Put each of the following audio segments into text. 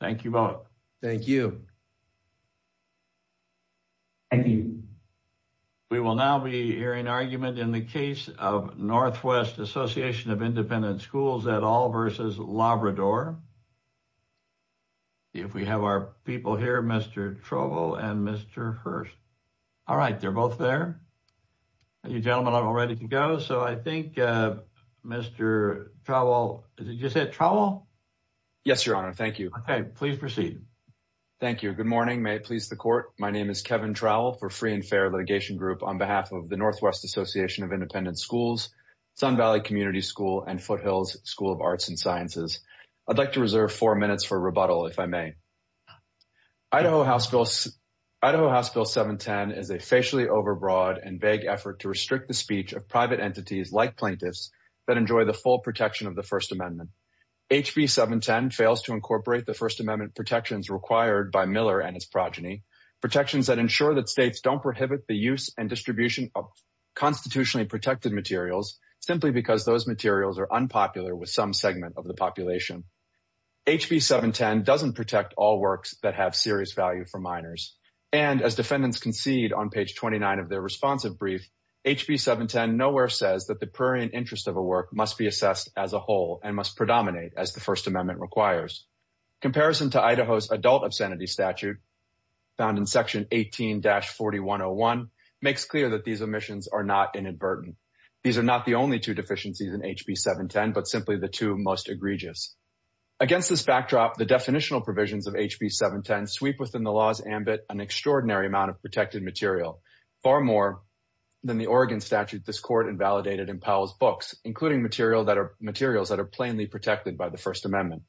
Thank you both. Thank you. Thank you. We will now be hearing argument in the case of Northwest Association of Independent Schools et al versus Labrador. If we have our people here, Mr. Trowell and Mr. Hearst. All right, they're both there. You gentlemen are all ready to go. So I think Mr. Trowell, did you say Trowell? Yes, Your Honor. Thank you. Okay, please proceed. Thank you. Good morning. May it please the court. My name is Kevin Trowell for Free and Fair Litigation Group on behalf of the Northwest Association of Independent Schools, Sun Valley Community School and Foothills School of Arts and Sciences. I'd like to reserve four minutes for rebuttal if I may. Idaho House Bill 710 is a facially overbroad and vague effort to restrict the speech of private entities like plaintiffs that enjoy the full protection of the First Amendment. HB 710 fails to incorporate the First Amendment protections required by Miller and his progeny, protections that ensure that states don't prohibit the use and distribution of constitutionally protected materials simply because those materials are unpopular with some segment of the population. HB 710 doesn't protect all works that have serious value for minors. And as defendants concede on page 29 of their responsive brief, HB 710 nowhere says that prairie and interest of a work must be assessed as a whole and must predominate as the First Amendment requires. Comparison to Idaho's adult obscenity statute found in section 18-4101 makes clear that these omissions are not inadvertent. These are not the only two deficiencies in HB 710 but simply the two most egregious. Against this backdrop, the definitional provisions of HB 710 sweep within the law's ambit an extraordinary amount of protected material, far more than the Oregon statute this court invalidated in Powell's books, including materials that are plainly protected by the First Amendment.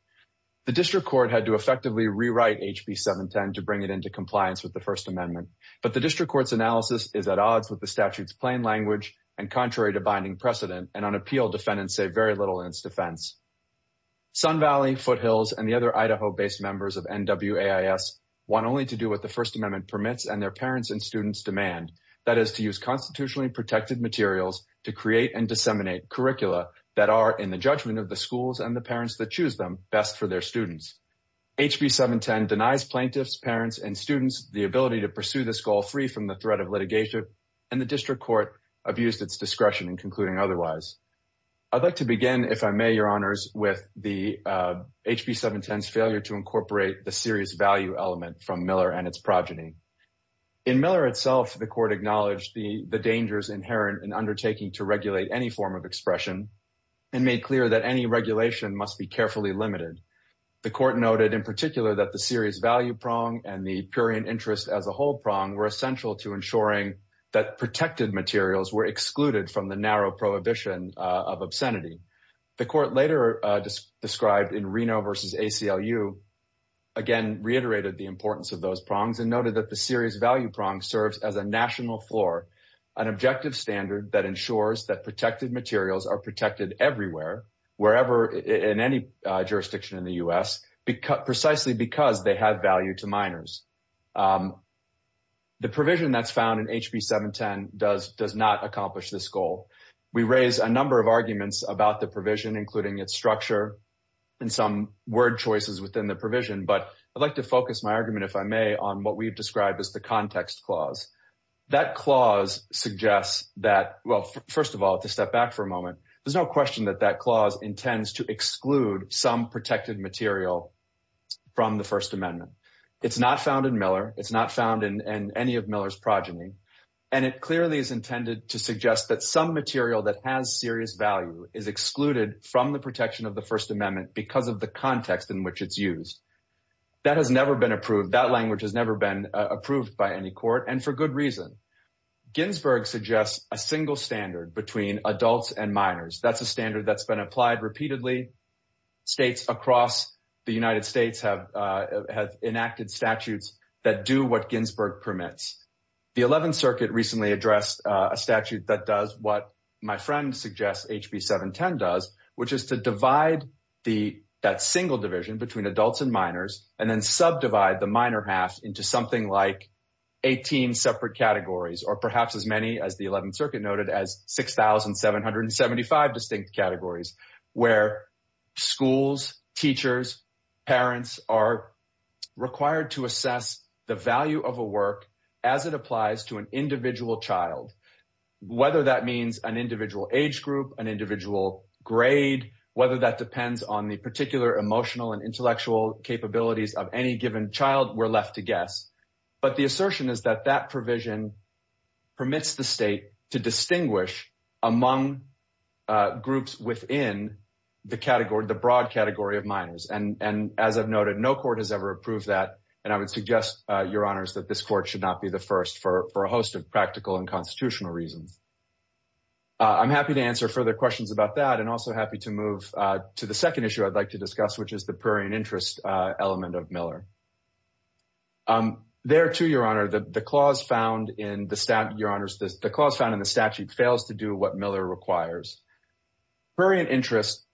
The district court had to effectively rewrite HB 710 to bring it into compliance with the First Amendment, but the district court's analysis is at odds with the statute's plain language and contrary to binding precedent, and unappealed defendants say very little in its defense. Sun Valley, Foothills, and the other Idaho-based members of NWAIS want only to do what the First Amendment's demand, that is to use constitutionally protected materials to create and disseminate curricula that are, in the judgment of the schools and the parents that choose them, best for their students. HB 710 denies plaintiffs, parents, and students the ability to pursue this goal free from the threat of litigation, and the district court abused its discretion in concluding otherwise. I'd like to begin, if I may, your honors, with HB 710's failure to incorporate the serious value element from Miller and its progeny. In Miller itself, the court acknowledged the dangers inherent in undertaking to regulate any form of expression, and made clear that any regulation must be carefully limited. The court noted in particular that the serious value prong and the purian interest as a whole prong were essential to ensuring that protected materials were excluded from the narrow prohibition of obscenity. The court later described in Reno versus ACLU, again reiterated the importance of those prongs, and noted that the serious value prong serves as a national floor, an objective standard that ensures that protected materials are protected everywhere, wherever, in any jurisdiction in the U.S., precisely because they have value to minors. The provision that's found in HB 710 does not accomplish this goal. We raise a number of arguments about the provision, including its structure and some word choices within the provision, but I'd like to focus my argument, if I may, on what we've described as the context clause. That clause suggests that, well, first of all, to step back for a moment, there's no question that that clause intends to exclude some protected material from the First Amendment. It's not found in Miller. It's not found in any of Miller's and it clearly is intended to suggest that some material that has serious value is excluded from the protection of the First Amendment because of the context in which it's used. That has never been approved. That language has never been approved by any court, and for good reason. Ginsburg suggests a single standard between adults and minors. That's a standard that's been applied repeatedly. States across the United States have enacted statutes that do what Ginsburg permits. The Eleventh Circuit recently addressed a statute that does what my friend suggests HB 710 does, which is to divide that single division between adults and minors and then subdivide the minor half into something like 18 separate categories or perhaps as many as the Eleventh Circuit noted as 6,775 distinct categories where schools, teachers, parents are required to assess the value of a work as it applies to an individual child. Whether that means an individual age group, an individual grade, whether that depends on the particular emotional and intellectual capabilities of any given child, we're left to guess. But the assertion is that that provision permits the state to distinguish among groups within the broad category of minors. As I've noted, no court has ever approved that, and I would suggest, Your Honors, that this court should not be the first for a host of practical and constitutional reasons. I'm happy to answer further questions about that and also happy to move to the second issue I'd like to discuss, which is the prurient interest element of Miller. There too, Your Honor, the clause found in the statute fails to do what Miller requires. Prurient interest,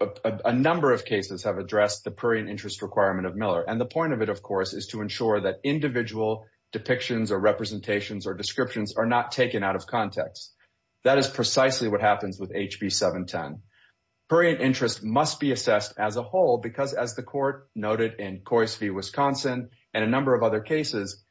a number of cases have addressed the prurient interest requirement of Miller, and the point of it, of course, is to ensure that individual depictions or representations or descriptions are not taken out of context. That is precisely what happens with HB 710. Prurient interest must be assessed as a whole because, as the Court noted in Coyce v. Wisconsin and a number of other cases,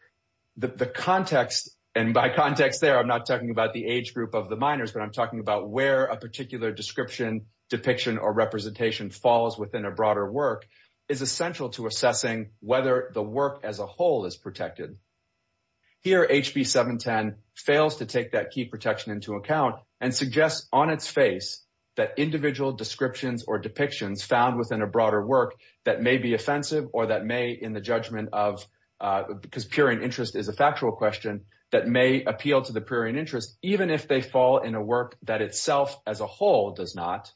the context, and by context there I'm not talking about the age group of the minors, but I'm talking about where a particular description, depiction, or representation falls within a broader work, is essential to assessing whether the work as a whole is protected. Here HB 710 fails to take that key protection into account and suggests on its face that individual descriptions or depictions found within a broader work that may be offensive or that may, in the judgment of, because prurient interest is a even if they fall in a work that itself as a whole does not,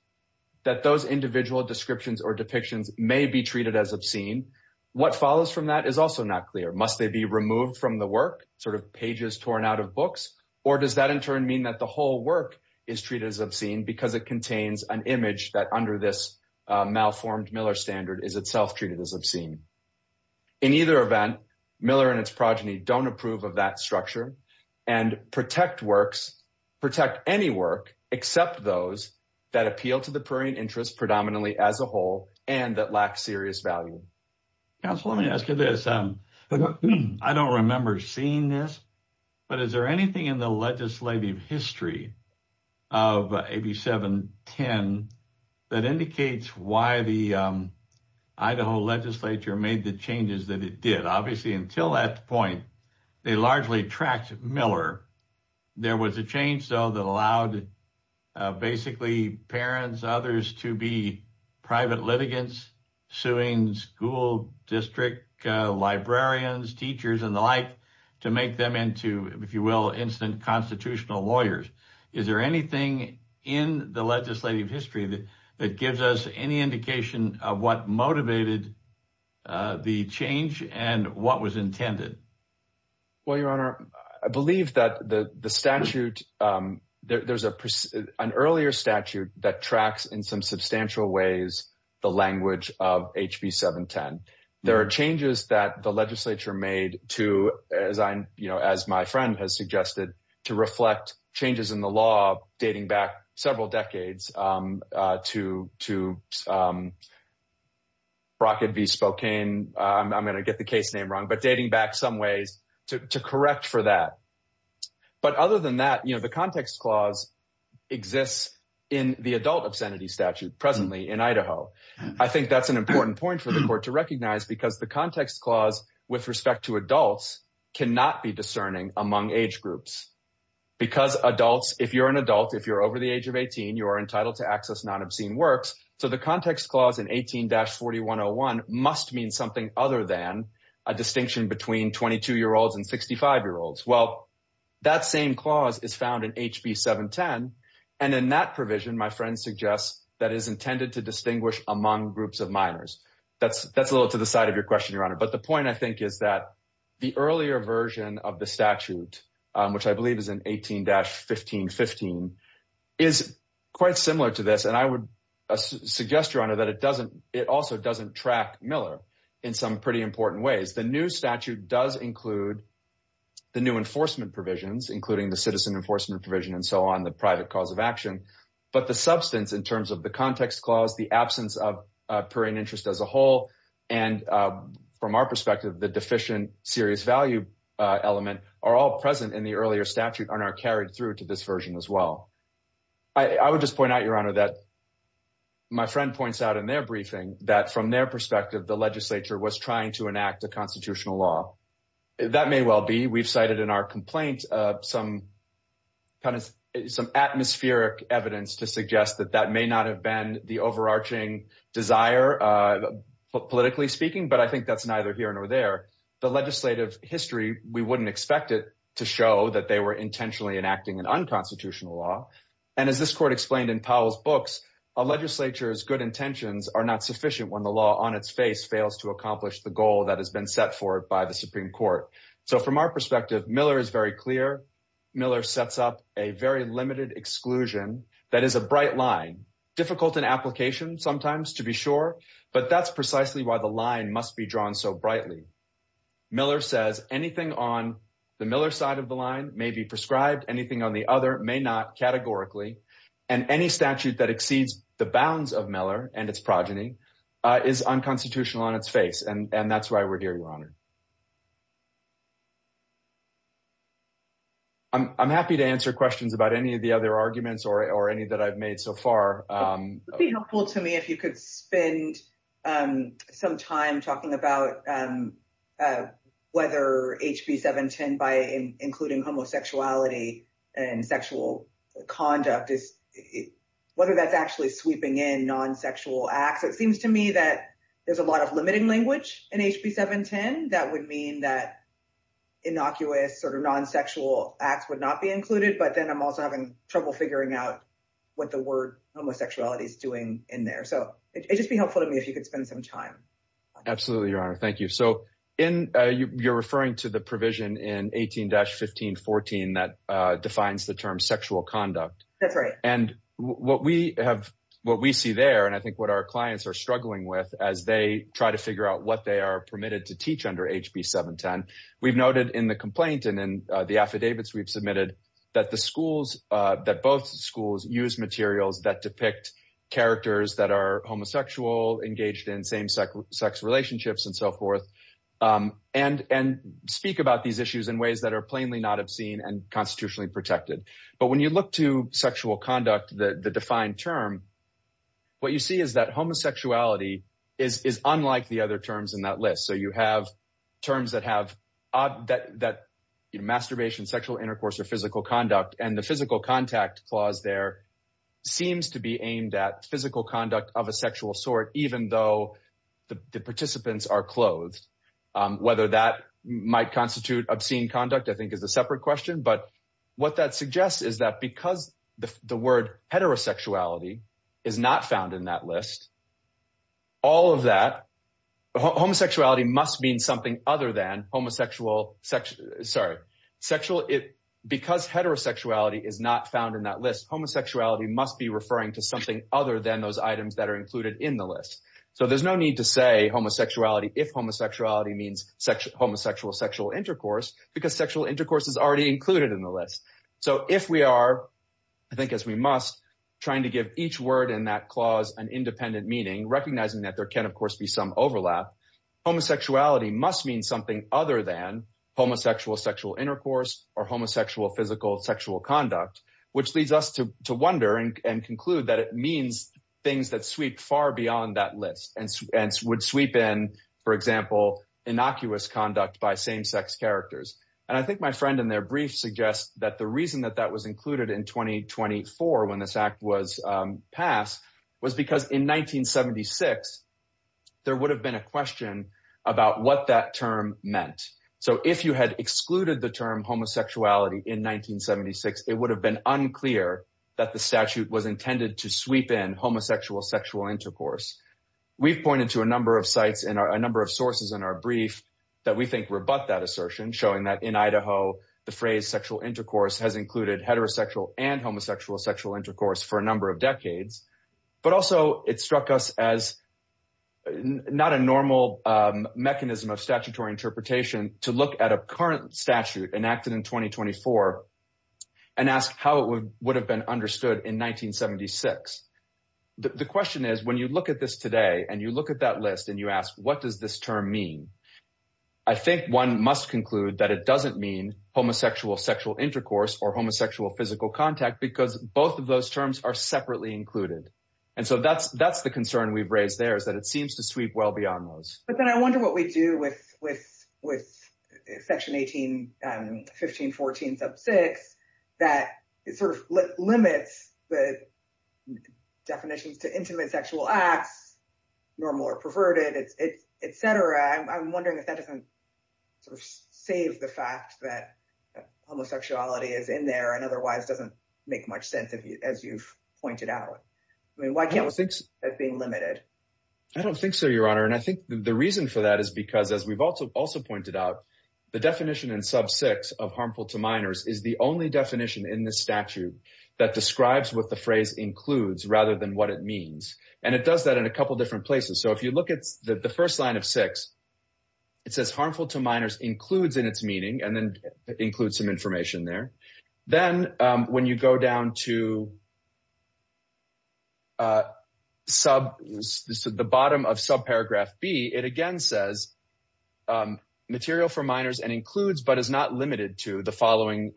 that those individual descriptions or depictions may be treated as obscene. What follows from that is also not clear. Must they be removed from the work, sort of pages torn out of books, or does that in turn mean that the whole work is treated as obscene because it contains an image that under this malformed Miller standard is itself treated as obscene? In either event, Miller and its progeny don't approve of that structure and protect works, protect any work except those that appeal to the prurient interest predominantly as a whole and that lack serious value. Council, let me ask you this. I don't remember seeing this, but is there anything in the legislative history of HB 710 that indicates why the Idaho legislature made the changes that it did? Obviously, until that point, they largely tracked Miller. There was a change, though, that allowed basically parents, others to be private litigants, suing school district librarians, teachers, and the like to make them into, if you will, instant constitutional lawyers. Is there anything in the legislative history that gives us any indication of what motivated the change and what was intended? Well, Your Honor, I believe that there's an earlier statute that tracks in some substantial ways the language of HB 710. There are changes that the legislature made to, as my friend has suggested, to reflect changes in the law dating back several decades to Brockett v. Spokane. I'm going to get the case name wrong, but dating back some ways to correct for that. But other than that, the context clause exists in the adult obscenity statute presently in Idaho. I think that's an important point for the court to recognize because the context clause with respect to adults cannot be discerning among age groups. Because adults, if you're an adult, if you're over the age of 18, you are entitled to access non-obscene works. So the context clause in 18-4101 must mean something other than a distinction between 22-year-olds and 65-year-olds. Well, that same clause is found in HB 710, and in that provision, my friend suggests, that is intended to distinguish among groups of minors. That's a little to the question, Your Honor. But the point, I think, is that the earlier version of the statute, which I believe is in 18-1515, is quite similar to this. And I would suggest, Your Honor, that it also doesn't track Miller in some pretty important ways. The new statute does include the new enforcement provisions, including the citizen enforcement provision and so on, the private cause of action. But the substance in terms of the context clause, the absence of purring interest as a whole, and from our perspective, the deficient serious value element, are all present in the earlier statute and are carried through to this version as well. I would just point out, Your Honor, that my friend points out in their briefing that from their perspective, the legislature was trying to enact a constitutional law. That may well be. We've cited in our complaint some atmospheric evidence to suggest that that may not have been the overarching desire, politically speaking, but I think that's neither here nor there. The legislative history, we wouldn't expect it to show that they were intentionally enacting an unconstitutional law. And as this court explained in Powell's books, a legislature's good intentions are not sufficient when the law on its face fails to accomplish the goal that has been set for it by the Supreme Court. So from our perspective, Miller is very clear. Miller sets up a very limited exclusion that is a bright line, difficult in application sometimes to be sure, but that's precisely why the line must be drawn so brightly. Miller says anything on the Miller side of the line may be prescribed, anything on the other may not categorically. And any statute that exceeds the bounds of Miller and its progeny is unconstitutional on its face, and that's why or any that I've made so far. It would be helpful to me if you could spend some time talking about whether HB 710 by including homosexuality and sexual conduct, whether that's actually sweeping in non-sexual acts. It seems to me that there's a lot of limiting language in HB 710 that would mean that innocuous sort of non-sexual acts would not be included, but then I'm also having trouble figuring out what the word homosexuality is doing in there. So it'd just be helpful to me if you could spend some time. Absolutely, Your Honor. Thank you. So you're referring to the provision in 18-1514 that defines the term sexual conduct. That's right. And what we see there, and I think what our clients are struggling with as they try to figure out what they are permitted to teach under HB 710, we've noted in the complaint and in the affidavits we've submitted that the schools, that both schools use materials that depict characters that are homosexual, engaged in same-sex relationships, and so forth, and speak about these issues in ways that are plainly not obscene and constitutionally protected. But when you look to sexual conduct, the defined term, what you see is that homosexuality is unlike the other terms in that affidavit. So you have terms that have masturbation, sexual intercourse, or physical conduct, and the physical contact clause there seems to be aimed at physical conduct of a sexual sort, even though the participants are clothed. Whether that might constitute obscene conduct, I think, is a separate question. But what that suggests is that because the word heterosexuality is not found in that list, all of that, homosexuality must mean something other than homosexual sex, sorry, sexual, because heterosexuality is not found in that list, homosexuality must be referring to something other than those items that are included in the list. So there's no need to say homosexuality if homosexuality means homosexual sexual intercourse, because sexual intercourse is already included in the list. So if we are, I think as we must, trying to give each word in that clause an independent meaning, recognizing that there can of course be some overlap, homosexuality must mean something other than homosexual sexual intercourse, or homosexual physical sexual conduct, which leads us to wonder and conclude that it means things that sweep far beyond that list, and would sweep in, for example, innocuous conduct by same-sex characters. And I think my friend in suggests that the reason that that was included in 2024 when this act was passed was because in 1976 there would have been a question about what that term meant. So if you had excluded the term homosexuality in 1976, it would have been unclear that the statute was intended to sweep in homosexual sexual intercourse. We've pointed to a number of sites and a number of sources in our brief that we think rebut that assertion, showing that in Idaho the phrase sexual intercourse has included heterosexual and homosexual sexual intercourse for a number of decades, but also it struck us as not a normal mechanism of statutory interpretation to look at a current statute enacted in 2024 and ask how it would have been understood in 1976. The question is when you at this today and you look at that list and you ask what does this term mean, I think one must conclude that it doesn't mean homosexual sexual intercourse or homosexual physical contact because both of those terms are separately included. And so that's the concern we've raised there, is that it seems to sweep well beyond those. But then I wonder what we do with with section 18, 15, 14, sub 6, that it sort of limits the definitions to intimate sexual acts, normal or perverted, etc. I'm wondering if that doesn't sort of save the fact that homosexuality is in there and otherwise doesn't make much sense as you've pointed out. I mean, why can't we think that's being limited? I don't think so, your honor. And I think the reason for that is because, as we've also pointed out, the definition in sub 6 of harmful to minors is the only definition in this statute that describes what the phrase includes rather than what it means. And it does that in a couple different places. So if you look at the first line of 6, it says harmful to minors includes in its meaning and then includes some information there. Then when you go down to the bottom of sub paragraph B, it again says material for minors and includes but is not limited to the following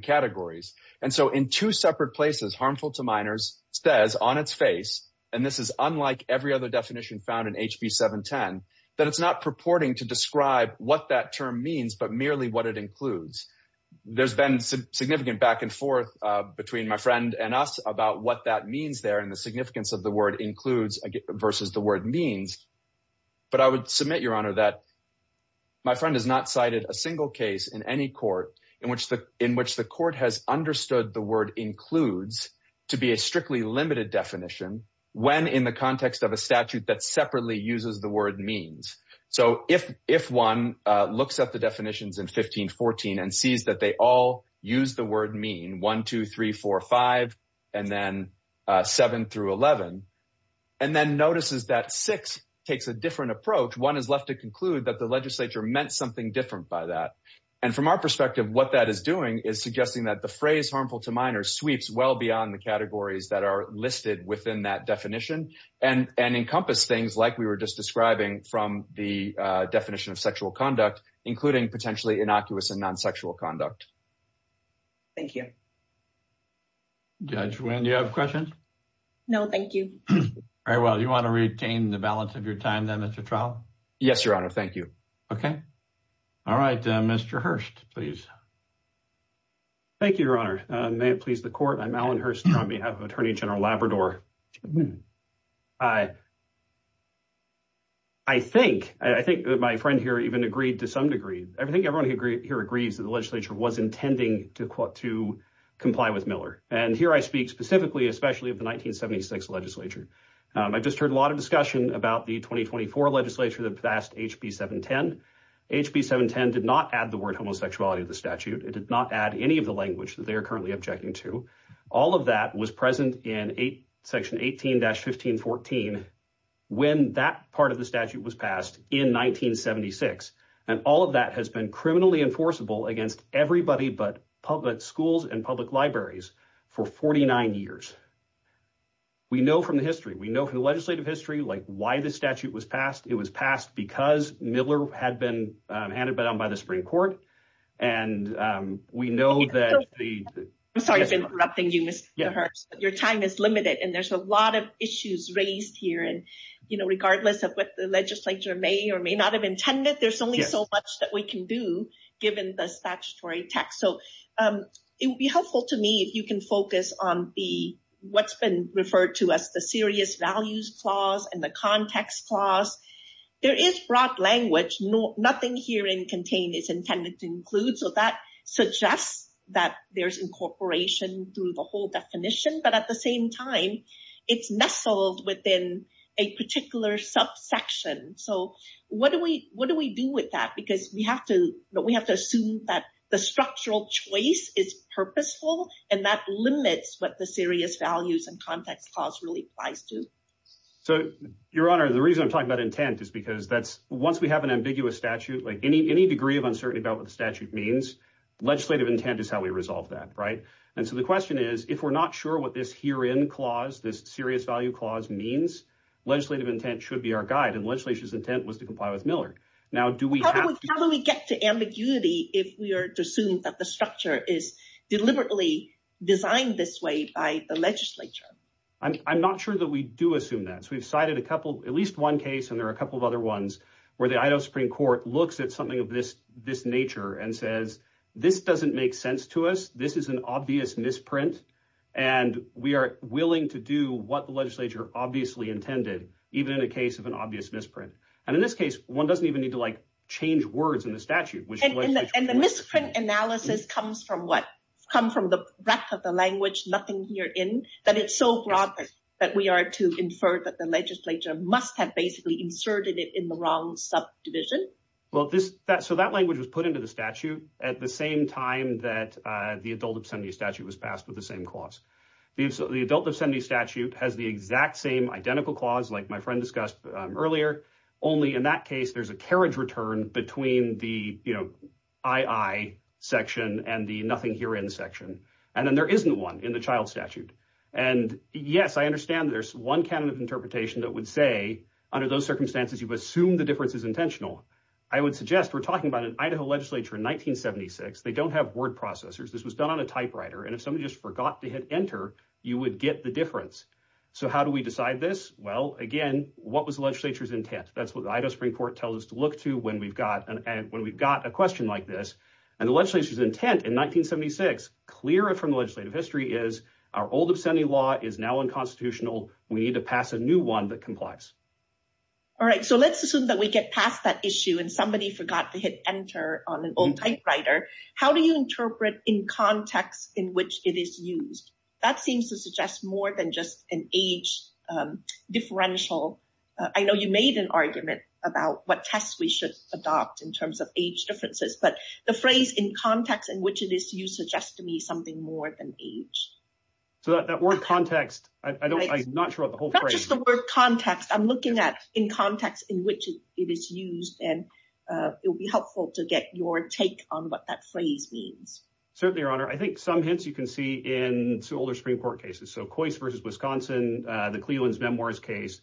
categories. And so in two separate places, harmful to minors says on its face, and this is unlike every other definition found in HB 710, that it's not purporting to describe what that term means, but merely what it includes. There's been some significant back and forth between my friend and us about what that means there and the significance of the word includes versus the word means. But I would submit, your honor, that my friend has not cited a single case in any court in which the court has understood the word includes to be a strictly limited definition when in the context of a statute that separately uses the word means. So if one looks at the definitions in 1514 and sees that they all use the word mean, 1, 2, 3, 4, 5, and then 7 through 11, and then notices that 6 takes a different approach, one is left to conclude that the legislature meant something different by that. And from our perspective, what that is doing is suggesting that the phrase harmful to minors sweeps well beyond the categories that are listed within that definition and encompass things like we were just describing from the definition of sexual conduct, including potentially innocuous and non-sexual conduct. Thank you. Judge Wynn, do you have questions? No, thank you. All right, well, do you want to retain the balance of your time then at the trial? Yes, your honor, thank you. Okay, all right, Mr. Hurst, please. Thank you, your honor. May it please the court, I'm Alan Hurst on behalf of Attorney General Labrador. I think that my friend here even agreed to some degree, I think everyone here agrees that the legislature was intending to comply with Miller. And here I speak specifically, especially of the 1976 legislature. I just heard a lot of discussion about the 2024 legislature that passed HB 710. HB 710 did not add the word homosexuality to the statute. It did not add any of the language that they are currently objecting to. All of that was present in section 18-1514 when that part of the statute was passed in 1976. And all of that has been criminally enforceable against everybody but public schools and public libraries for 49 years. We know from the history, we know from the legislative history like why the statute was passed. It was passed because Miller had been handed down by the Supreme Court. And we know that the- I'm sorry for interrupting you, Mr. Hurst. Your time is limited and there's a lot of issues raised here. And regardless of what the legislature may or may not have intended, there's only so much that we can do given the statutory text. So it would be helpful to me if you can focus on what's been referred to as the serious values clause and the context clause. There is broad language. Nothing here in contained is intended to include. So that suggests that there's incorporation through the whole definition. But at the same time, it's nestled within a particular subsection. So what do we do with that? Because we have to assume that the structural choice is purposeful and that limits what the serious values and context clause really applies to. So, Your Honor, the reason I'm talking about intent is because that's- once we have an ambiguous statute, like any degree of uncertainty about what the statute means, legislative intent is how we resolve that, right? And so the question is, if we're not sure what this herein clause, this serious value clause means, legislative intent should be our guide. And was to comply with Miller. How do we get to ambiguity if we are to assume that the structure is deliberately designed this way by the legislature? I'm not sure that we do assume that. So we've cited a couple, at least one case, and there are a couple of other ones where the Idaho Supreme Court looks at something of this nature and says, this doesn't make sense to us. This is an obvious misprint. And we are willing to do what the legislature obviously intended, even in a case of an obvious misprint. And in this case, one doesn't even need to like change words in the statute. And the misprint analysis comes from what? Come from the breadth of the language, nothing herein, that it's so broad that we are to infer that the legislature must have basically inserted it in the wrong subdivision. Well, so that language was put into the statute at the same time that the adult obscenity statute was passed with the clause. The adult obscenity statute has the exact same identical clause like my friend discussed earlier. Only in that case, there's a carriage return between the II section and the nothing here in the section. And then there isn't one in the child statute. And yes, I understand there's one kind of interpretation that would say under those circumstances, you assume the difference is intentional. I would suggest we're talking about an Idaho legislature in 1976. They don't have word processors. This was done on a typewriter. And if somebody just forgot to hit enter, you would get the difference. So how do we decide this? Well, again, what was the legislature's intent? That's what the Idaho Supreme Court tells us to look to when we've got a question like this. And the legislature's intent in 1976, clearer from the legislative history, is our old obscenity law is now unconstitutional. We need to pass a new one that complies. All right. So let's assume that we get past that issue and somebody forgot to hit enter on an old typewriter. How do you interpret in context in which it is used? That seems to suggest more than just an age differential. I know you made an argument about what tests we should adopt in terms of age differences, but the phrase in context in which it is used suggests to me something more than age. So that word context, I'm not sure what the whole phrase is. Not just the word take on what that phrase means. Certainly, Your Honor. I think some hints you can see in older Supreme Court cases. So Coyce versus Wisconsin, the Cleland's Memoirs case.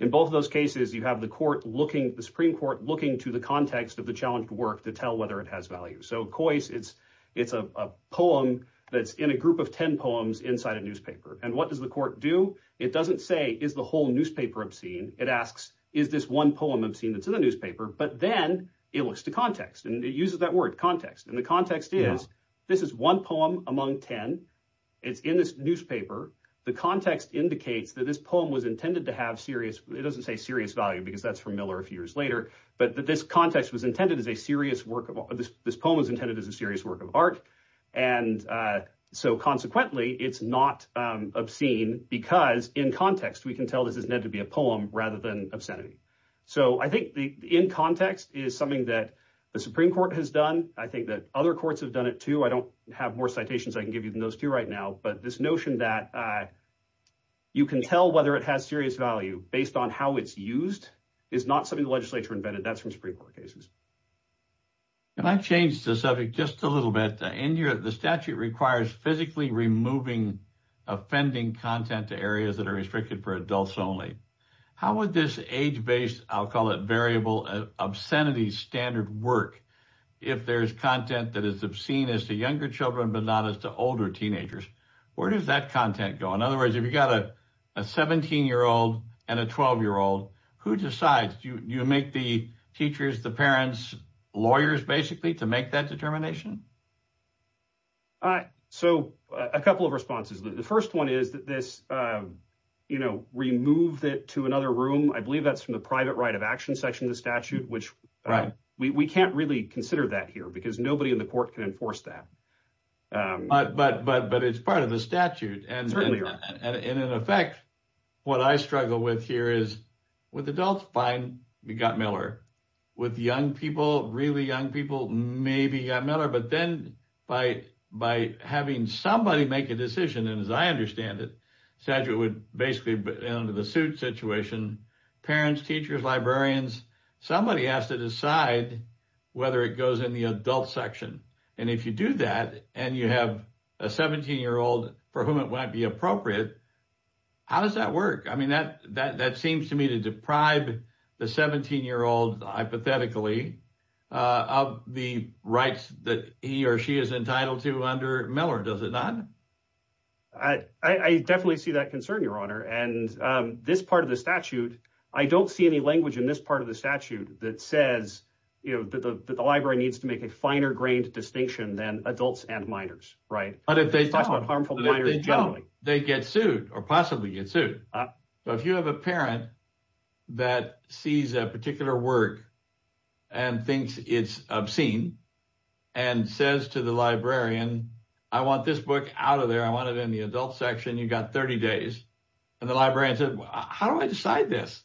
In both of those cases, you have the Supreme Court looking to the context of the challenged work to tell whether it has value. So Coyce, it's a poem that's in a group of 10 poems inside a newspaper. And what does the court do? It doesn't say, is the whole newspaper obscene? It asks, is this one poem obscene that's in the newspaper? But then it looks to context. It uses that word context. And the context is, this is one poem among 10. It's in this newspaper. The context indicates that this poem was intended to have serious, it doesn't say serious value, because that's from Miller a few years later. But that this context was intended as a serious work of art. This poem was intended as a serious work of art. And so consequently, it's not obscene because in context, we can tell this is meant to be a poem rather than obscenity. So I think in context is something that the Supreme Court has done. I think that other courts have done it too. I don't have more citations I can give you than those two right now. But this notion that you can tell whether it has serious value based on how it's used is not something the legislature invented. That's from Supreme Court cases. Can I change the subject just a little bit? In Europe, the statute requires physically removing offending content to areas that are restricted for adults only. How would this age-based, I'll call it variable, obscenity standard work, if there's content that is obscene as to younger children, but not as to older teenagers? Where does that content go? In other words, if you've got a 17-year-old and a 12-year-old, who decides? Do you make the teachers, the parents, lawyers, basically, to make that determination? So a couple of responses. The first one is that this you know removed it to another room. I believe that's from the private right of action section of the statute, which we can't really consider that here because nobody in the court can enforce that. But it's part of the statute. Certainly. And in effect, what I struggle with here is with adults, fine, we got Miller. With young people, really young people, maybe got Miller. But then by having somebody make a decision, and as I understand it, statute would basically, under the suit situation, parents, teachers, librarians, somebody has to decide whether it goes in the adult section. And if you do that, and you have a 17-year-old for whom it might be appropriate, how does that work? I mean, that seems to me to deprive the 17-year-old, hypothetically, of the rights that he or she is entitled to under Miller, does it not? I definitely see that concern, Your Honor. And this part of the statute, I don't see any language in this part of the statute that says, you know, that the library needs to make a finer-grained distinction than adults and minors, right? But if they don't, they get sued, or possibly get sued. So if you have a parent that sees a particular work and thinks it's obscene, and says to the librarian, I want this book out of there, I want it in the adult section, you got 30 days, and the librarian says, how do I decide this?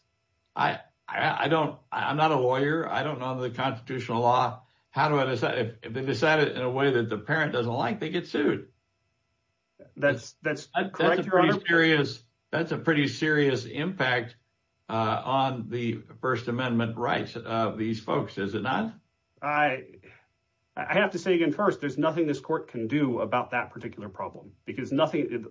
I'm not a lawyer, I don't know the constitutional law, how do I decide? If they decide it in a way that the parent doesn't like, they get sued. That's correct, Your Honor? That's a pretty serious impact on the First Amendment rights of these folks, is it not? I have to say again, first, there's nothing this court can do about that particular problem, because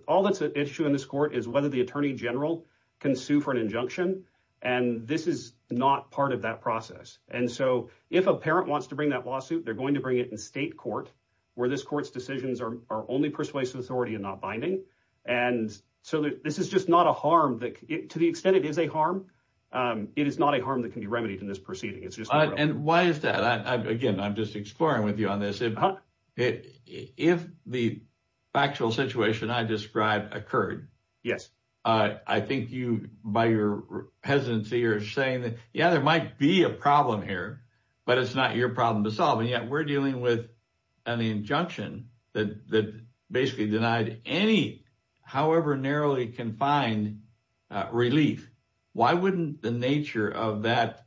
all that's at issue in this court is whether the Attorney General can sue for an injunction, and this is not part of that process. And so if a parent wants to bring that lawsuit, they're going to bring it in state court, where this court's decisions are only persuasive authority and not binding. And so this is just not a harm, to the extent it is a harm, it is not a harm that can be remedied in this proceeding. And why is that? Again, I'm just exploring with you on this. If the factual situation I described occurred, I think you, by your hesitancy, are saying that, yeah, there might be a problem here, but it's not your problem to solve. And yet we're dealing with an injunction that basically denied any, however narrowly confined, relief. Why wouldn't the nature of that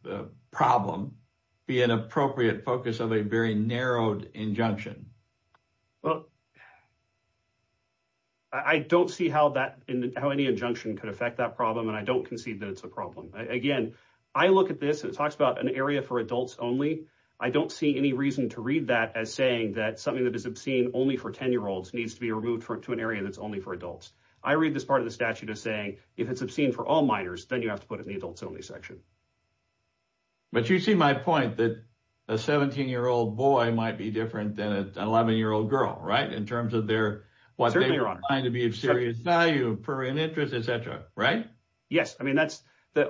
problem be an appropriate focus of a very narrowed injunction? Well, I don't see how any injunction could affect that problem, and I don't concede that it's a I don't see any reason to read that as saying that something that is obscene only for 10-year-olds needs to be removed to an area that's only for adults. I read this part of the statute as saying, if it's obscene for all minors, then you have to put it in the adults-only section. But you see my point that a 17-year-old boy might be different than an 11-year-old girl, right, in terms of what they find to be of serious value for an interest, et cetera, right? Yes. I mean,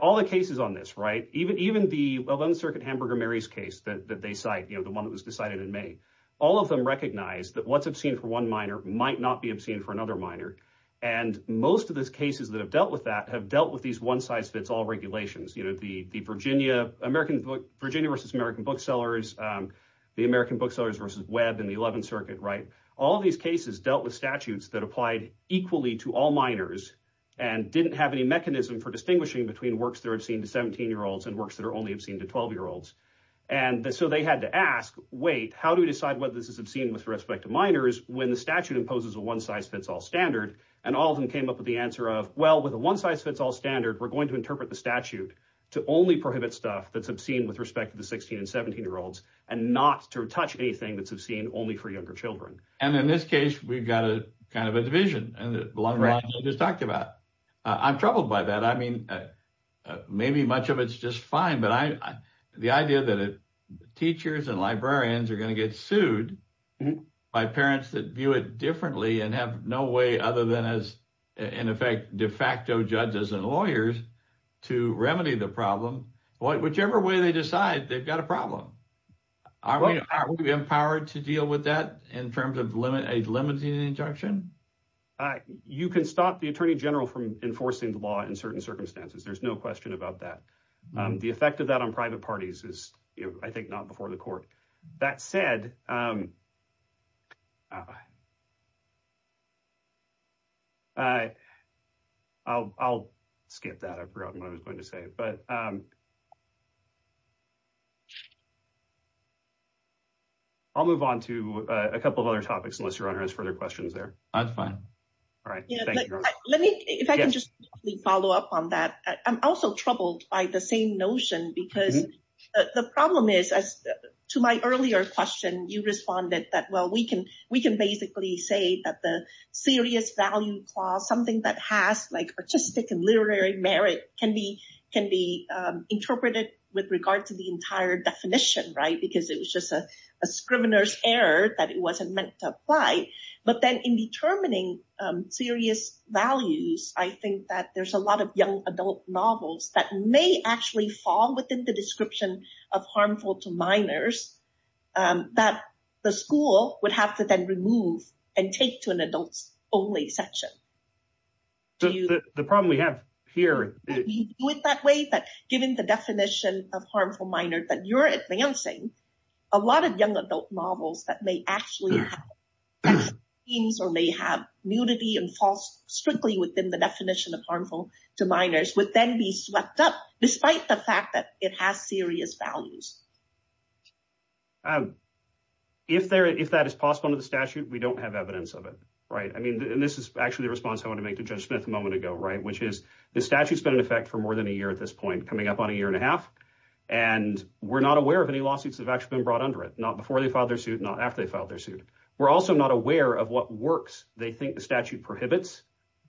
all the cases on this, right, even the 11th Circuit Hamburger-Mary's case that they cite, the one that was decided in May, all of them recognize that what's obscene for one minor might not be obscene for another minor. And most of those cases that have dealt with that have dealt with these one-size-fits-all regulations, the Virginia versus American booksellers, the American booksellers versus Webb in the 11th Circuit, right? All of these cases dealt with statutes that applied equally to all minors and didn't have any mechanism for distinguishing between works that are obscene to 17-year-olds and works that are only obscene to 12-year-olds. And so they had to ask, wait, how do we decide whether this is obscene with respect to minors when the statute imposes a one-size-fits-all standard? And all of them came up with the answer of, well, with a one-size-fits-all standard, we're going to interpret the statute to only prohibit stuff that's obscene with respect to the 16 and 17-year-olds and not to touch anything that's obscene only for younger children. And in this case, we've got a kind of a division along the lines I just talked about. I'm troubled by that. I mean, maybe much of it's just fine, but the idea that teachers and librarians are going to get sued by parents that view it differently and have no way other than as, in effect, de facto judges and lawyers to remedy the problem, whichever way they decide, they've got a problem. Are we empowered to deal with that in terms of a limiting injunction? You can stop the attorney general from enforcing the law in certain circumstances. There's no question about that. The effect of that on private parties is, I think, not before the court. That said, I'll skip that. I forgot what I was going to say. I'll move on to a couple of other topics unless your honor has further questions there. I'm fine. All right. Thank you. Let me, if I can just follow up on that. I'm also troubled by the same notion because the problem is, as to my earlier question, you responded that, well, we can basically say that the serious value clause, something that has like artistic and literary merit can be interpreted with regard to the entire definition, right? Because it was just a scrivener's error that it wasn't meant to apply. But then in determining serious values, I think that there's a lot of adult novels that may actually fall within the description of harmful to minors that the school would have to then remove and take to an adults only section. The problem we have here. Do you do it that way? That given the definition of harmful minor that you're advancing, a lot of young adult novels that may actually have themes or may have and falls strictly within the definition of harmful to minors would then be swept up, despite the fact that it has serious values. If that is possible under the statute, we don't have evidence of it, right? I mean, and this is actually the response I want to make to judge Smith a moment ago, right? Which is the statute's been in effect for more than a year at this point, coming up on a year and a half. And we're not aware of any lawsuits that have actually been brought under it, not before they filed their suit, not after they filed their suit. We're also not aware of what works. They think the statute prohibits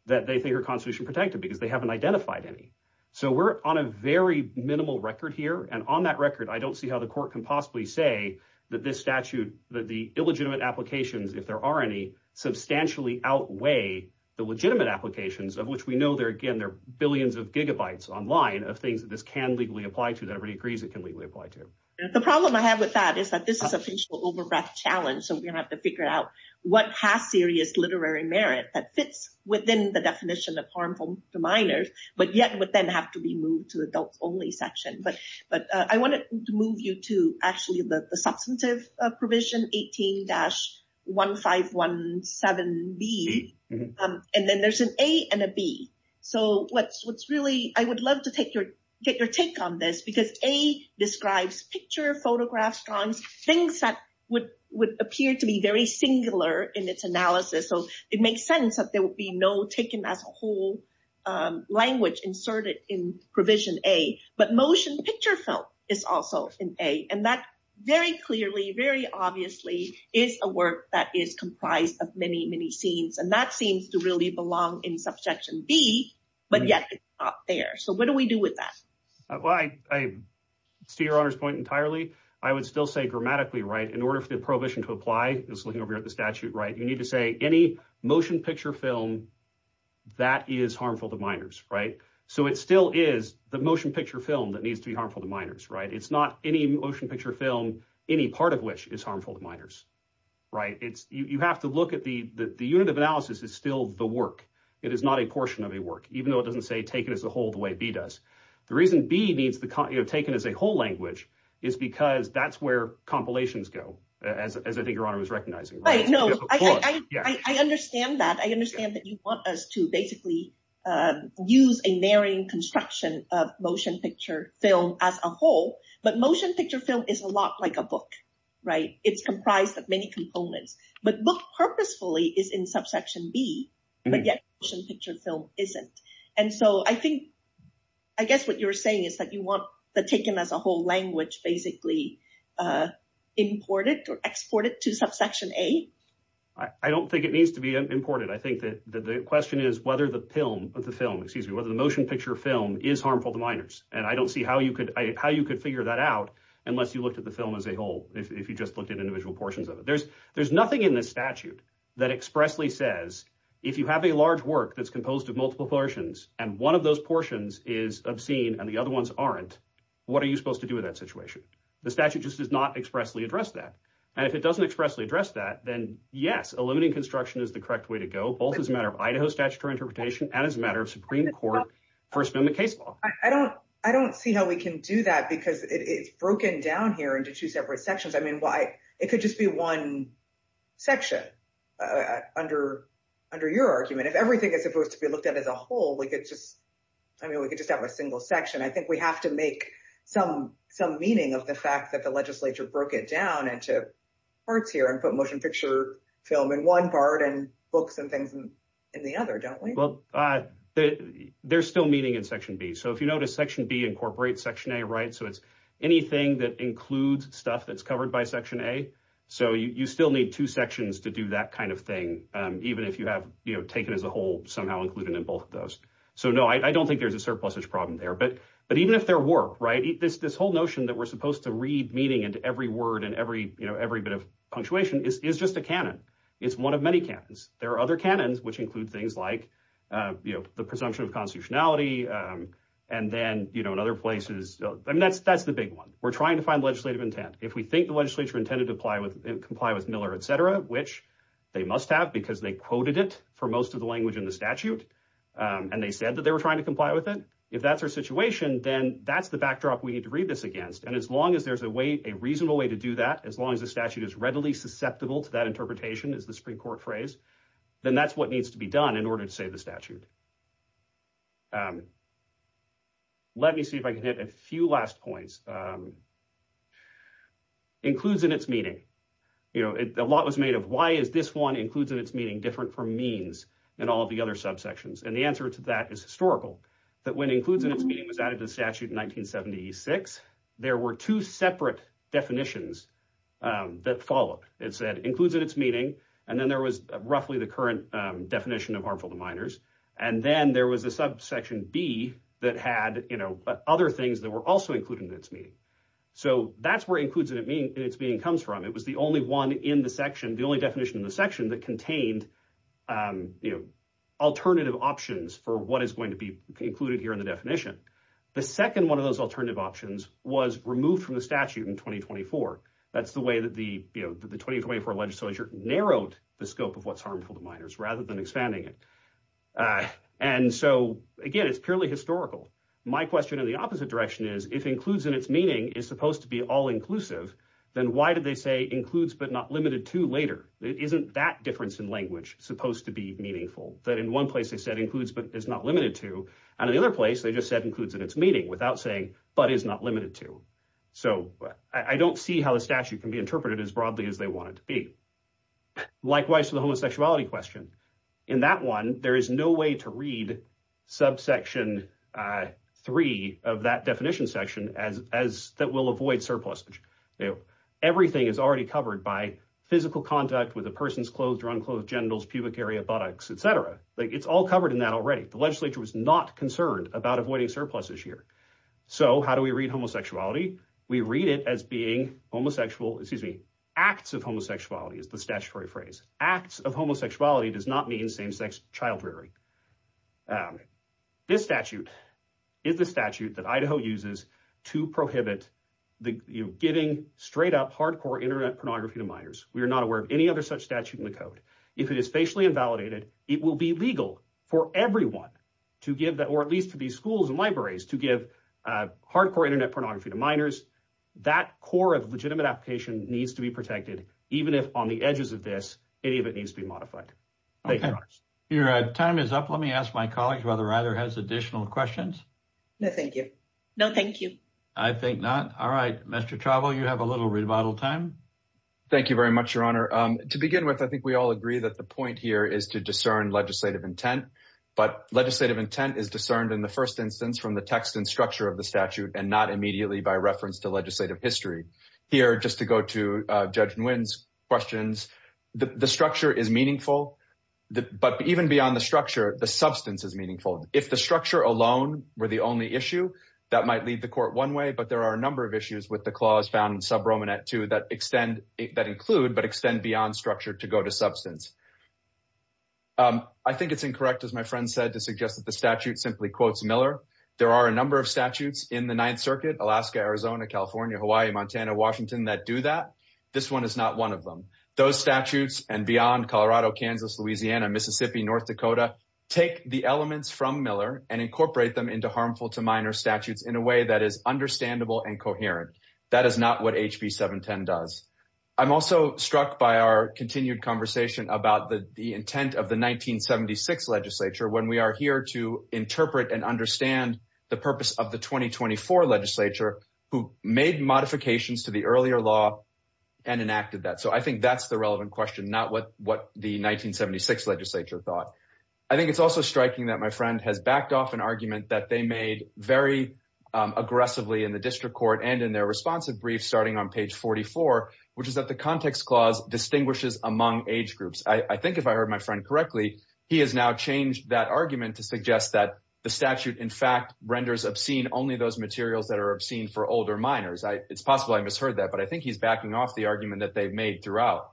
that they think are constitution protected because they haven't identified any. So we're on a very minimal record here. And on that record, I don't see how the court can possibly say that this statute, that the illegitimate applications, if there are any, substantially outweigh the legitimate applications of which we know they're, again, they're billions of gigabytes online of things that this can legally apply to that everybody agrees it can legally apply to. The problem I have with that is that this is a facial overbreath challenge. So we're going to have to figure out what has serious literary merit that fits within the definition of harmful to minors, but yet would then have to be moved to adults only section. But, but I wanted to move you to actually the substantive provision, 18-1517B, and then there's an A and a B. So what's, what's really, I would love to take your, get your take on this because A describes picture photographs, things that would, would appear to be very singular in its analysis. So it makes sense that there will be no taken as a whole language inserted in provision A, but motion picture film is also in A. And that very clearly, very obviously is a work that is comprised of many, many scenes. And that seems to really belong in subsection B, but yet it's not there. So what do we do with that? Well, I, I see your honor's point entirely. I would still say grammatically, right? In order for the prohibition to apply, it's looking over here at the statute, right? You need to say any motion picture film that is harmful to minors, right? So it still is the motion picture film that needs to be harmful to minors, right? It's not any motion picture film, any part of which is harmful to minors, right? It's, you have to look at the, the unit of analysis is still the work. It is not a portion of a work, even though it doesn't say taken as a whole the way B does. The reason B needs the, you know, taken as a whole language is because that's where compilations go. As I think your honor was recognizing. I know. I understand that. I understand that you want us to basically use a narrowing construction of motion picture film as a whole, but motion picture film is a lot like a book, right? It's comprised of many components, but look purposefully is in subsection B, but yet motion picture film isn't. And so I think, I guess what you're saying is that you want the taken as a whole language basically imported or exported to subsection A. I don't think it needs to be imported. I think that the question is whether the film of the film, excuse me, whether the motion picture film is harmful to minors. And I don't see how you could, how you could figure that out unless you looked at the film as a whole. If you just looked at if you have a large work that's composed of multiple portions and one of those portions is obscene and the other ones aren't, what are you supposed to do with that situation? The statute just does not expressly address that. And if it doesn't expressly address that, then yes, a limiting construction is the correct way to go. Both as a matter of Idaho statutory interpretation and as a matter of Supreme court first amendment case law. I don't, I don't see how we can do that because it's broken down here into two separate sections. It could just be one section under your argument. If everything is supposed to be looked at as a whole, we could just, I mean, we could just have a single section. I think we have to make some meaning of the fact that the legislature broke it down into parts here and put motion picture film in one part and books and things in the other, don't we? There's still meaning in section B. So if you notice section B incorporates section A, right? It's anything that includes stuff that's covered by section A. So you still need two sections to do that kind of thing. Even if you have taken as a whole somehow included in both of those. So no, I don't think there's a surplusage problem there, but even if there were, right, this whole notion that we're supposed to read meaning into every word and every bit of punctuation is just a canon. It's one of many cannons. There are other cannons, which include things like the presumption of constitutionality. And then in other places, I mean, that's the big one. We're trying to find legislative intent. If we think the legislature intended to comply with Miller, et cetera, which they must have because they quoted it for most of the language in the statute. And they said that they were trying to comply with it. If that's our situation, then that's the backdrop we need to read this against. And as long as there's a way, a reasonable way to do that, as long as the statute is readily susceptible to that interpretation is the Supreme Court phrase, then that's what needs to be done in order to the statute. Let me see if I can hit a few last points. Includes in its meaning. A lot was made of why is this one includes in its meaning different from means and all of the other subsections? And the answer to that is historical. That when includes in its meaning was added to the statute in 1976, there were two separate definitions that followed. It said includes in its meaning, and then there was roughly the current definition of harmful to minors. And then there was a subsection B that had other things that were also included in its meaning. So that's where includes in its meaning comes from. It was the only one in the section, the only definition in the section that contained alternative options for what is going to be included here in the definition. The second one of those alternative options was removed from the narrowed the scope of what's harmful to minors rather than expanding it. And so again, it's purely historical. My question in the opposite direction is if includes in its meaning is supposed to be all inclusive, then why did they say includes but not limited to later? It isn't that difference in language supposed to be meaningful that in one place they said includes but is not limited to. And in the other place they just said includes in its meaning without saying but is not limited to. So I don't see how the statute can be interpreted as broadly as they want it to be. Likewise for the homosexuality question. In that one, there is no way to read subsection three of that definition section as that will avoid surplus. Everything is already covered by physical contact with a person's clothed or unclothed genitals, pubic area, buttocks, etc. It's all covered in that already. The legislature was not concerned about avoiding surpluses here. So how do we read homosexuality? We read it as being homosexual, acts of homosexuality is the statutory phrase. Acts of homosexuality does not mean same-sex child rearing. This statute is the statute that Idaho uses to prohibit the giving straight up hardcore internet pornography to minors. We are not aware of any other such statute in the code. If it is facially invalidated, it will be legal for everyone to give that or at least to these schools and libraries to give hardcore internet pornography to minors. That core of legitimate application needs to be protected, even if on the edges of this, any of it needs to be modified. Your time is up. Let me ask my colleague whether either has additional questions. No, thank you. No, thank you. I think not. All right, Mr. Chauvel, you have a little rebuttal time. Thank you very much, Your Honor. To begin with, I think we all agree that the point here is to discern legislative intent, but legislative intent is discerned in the first instance from the text and structure of the statute and not immediately by reference to legislative history. Here, just to go to Judge Nguyen's questions, the structure is meaningful, but even beyond the structure, the substance is meaningful. If the structure alone were the only issue, that might lead the court one way, but there are a number of issues with the clause found in subromanent two that include but extend beyond structure to go to substance. I think it's incorrect, as my friend said, to suggest that the statute simply quotes Miller. There are a number of statutes in the Washington that do that. This one is not one of them. Those statutes, and beyond Colorado, Kansas, Louisiana, Mississippi, North Dakota, take the elements from Miller and incorporate them into harmful to minor statutes in a way that is understandable and coherent. That is not what HB 710 does. I'm also struck by our continued conversation about the intent of the 1976 legislature when we are here to interpret and understand the purpose of the 2024 legislature who made modifications to the earlier law and enacted that. I think that's the relevant question, not what the 1976 legislature thought. I think it's also striking that my friend has backed off an argument that they made very aggressively in the district court and in their responsive brief starting on page 44, which is that the context clause distinguishes among age groups. I think if I heard my friend correctly, he has now changed that argument to suggest that the statute, in fact, renders obscene only those materials that are obscene for older minors. It's possible I misheard that, but I think he's backing off the argument that they've made throughout.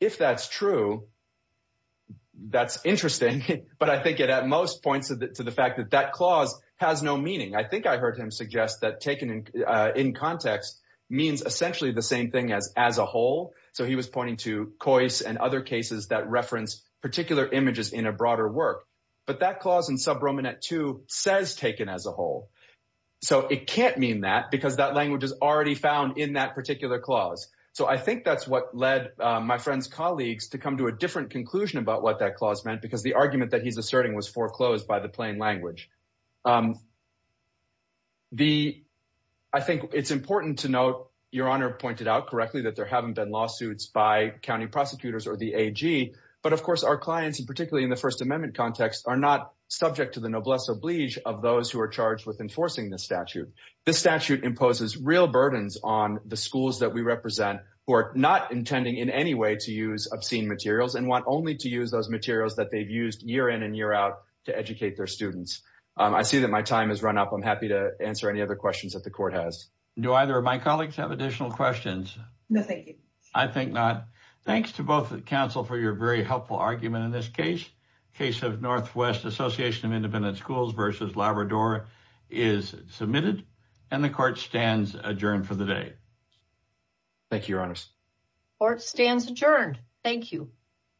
If that's true, that's interesting, but I think it at most points to the fact that that clause has no meaning. I think I heard him suggest that taken in context means essentially the same thing as as a whole. So he was pointing to Coase and other cases that reference particular images in a broader work, but that clause in subroman at two says taken as a whole. So it can't mean that because that language is already found in that particular clause. So I think that's what led my friend's colleagues to come to a different conclusion about what that clause meant because the argument that he's asserting was foreclosed by the plain language. I think it's important to note, your honor pointed out correctly that there haven't been lawsuits by county prosecutors or but of course our clients and particularly in the First Amendment context are not subject to the noblesse oblige of those who are charged with enforcing this statute. This statute imposes real burdens on the schools that we represent who are not intending in any way to use obscene materials and want only to use those materials that they've used year in and year out to educate their students. I see that my time has run up. I'm happy to answer any other questions that the court has. Do either of my colleagues have additional questions? No, thank you. I think not. Thanks to both the counsel for your very helpful argument in this case. Case of Northwest Association of Independent Schools versus Labrador is submitted and the court stands adjourned for the day. Thank you, your honors. Court stands adjourned. Thank you.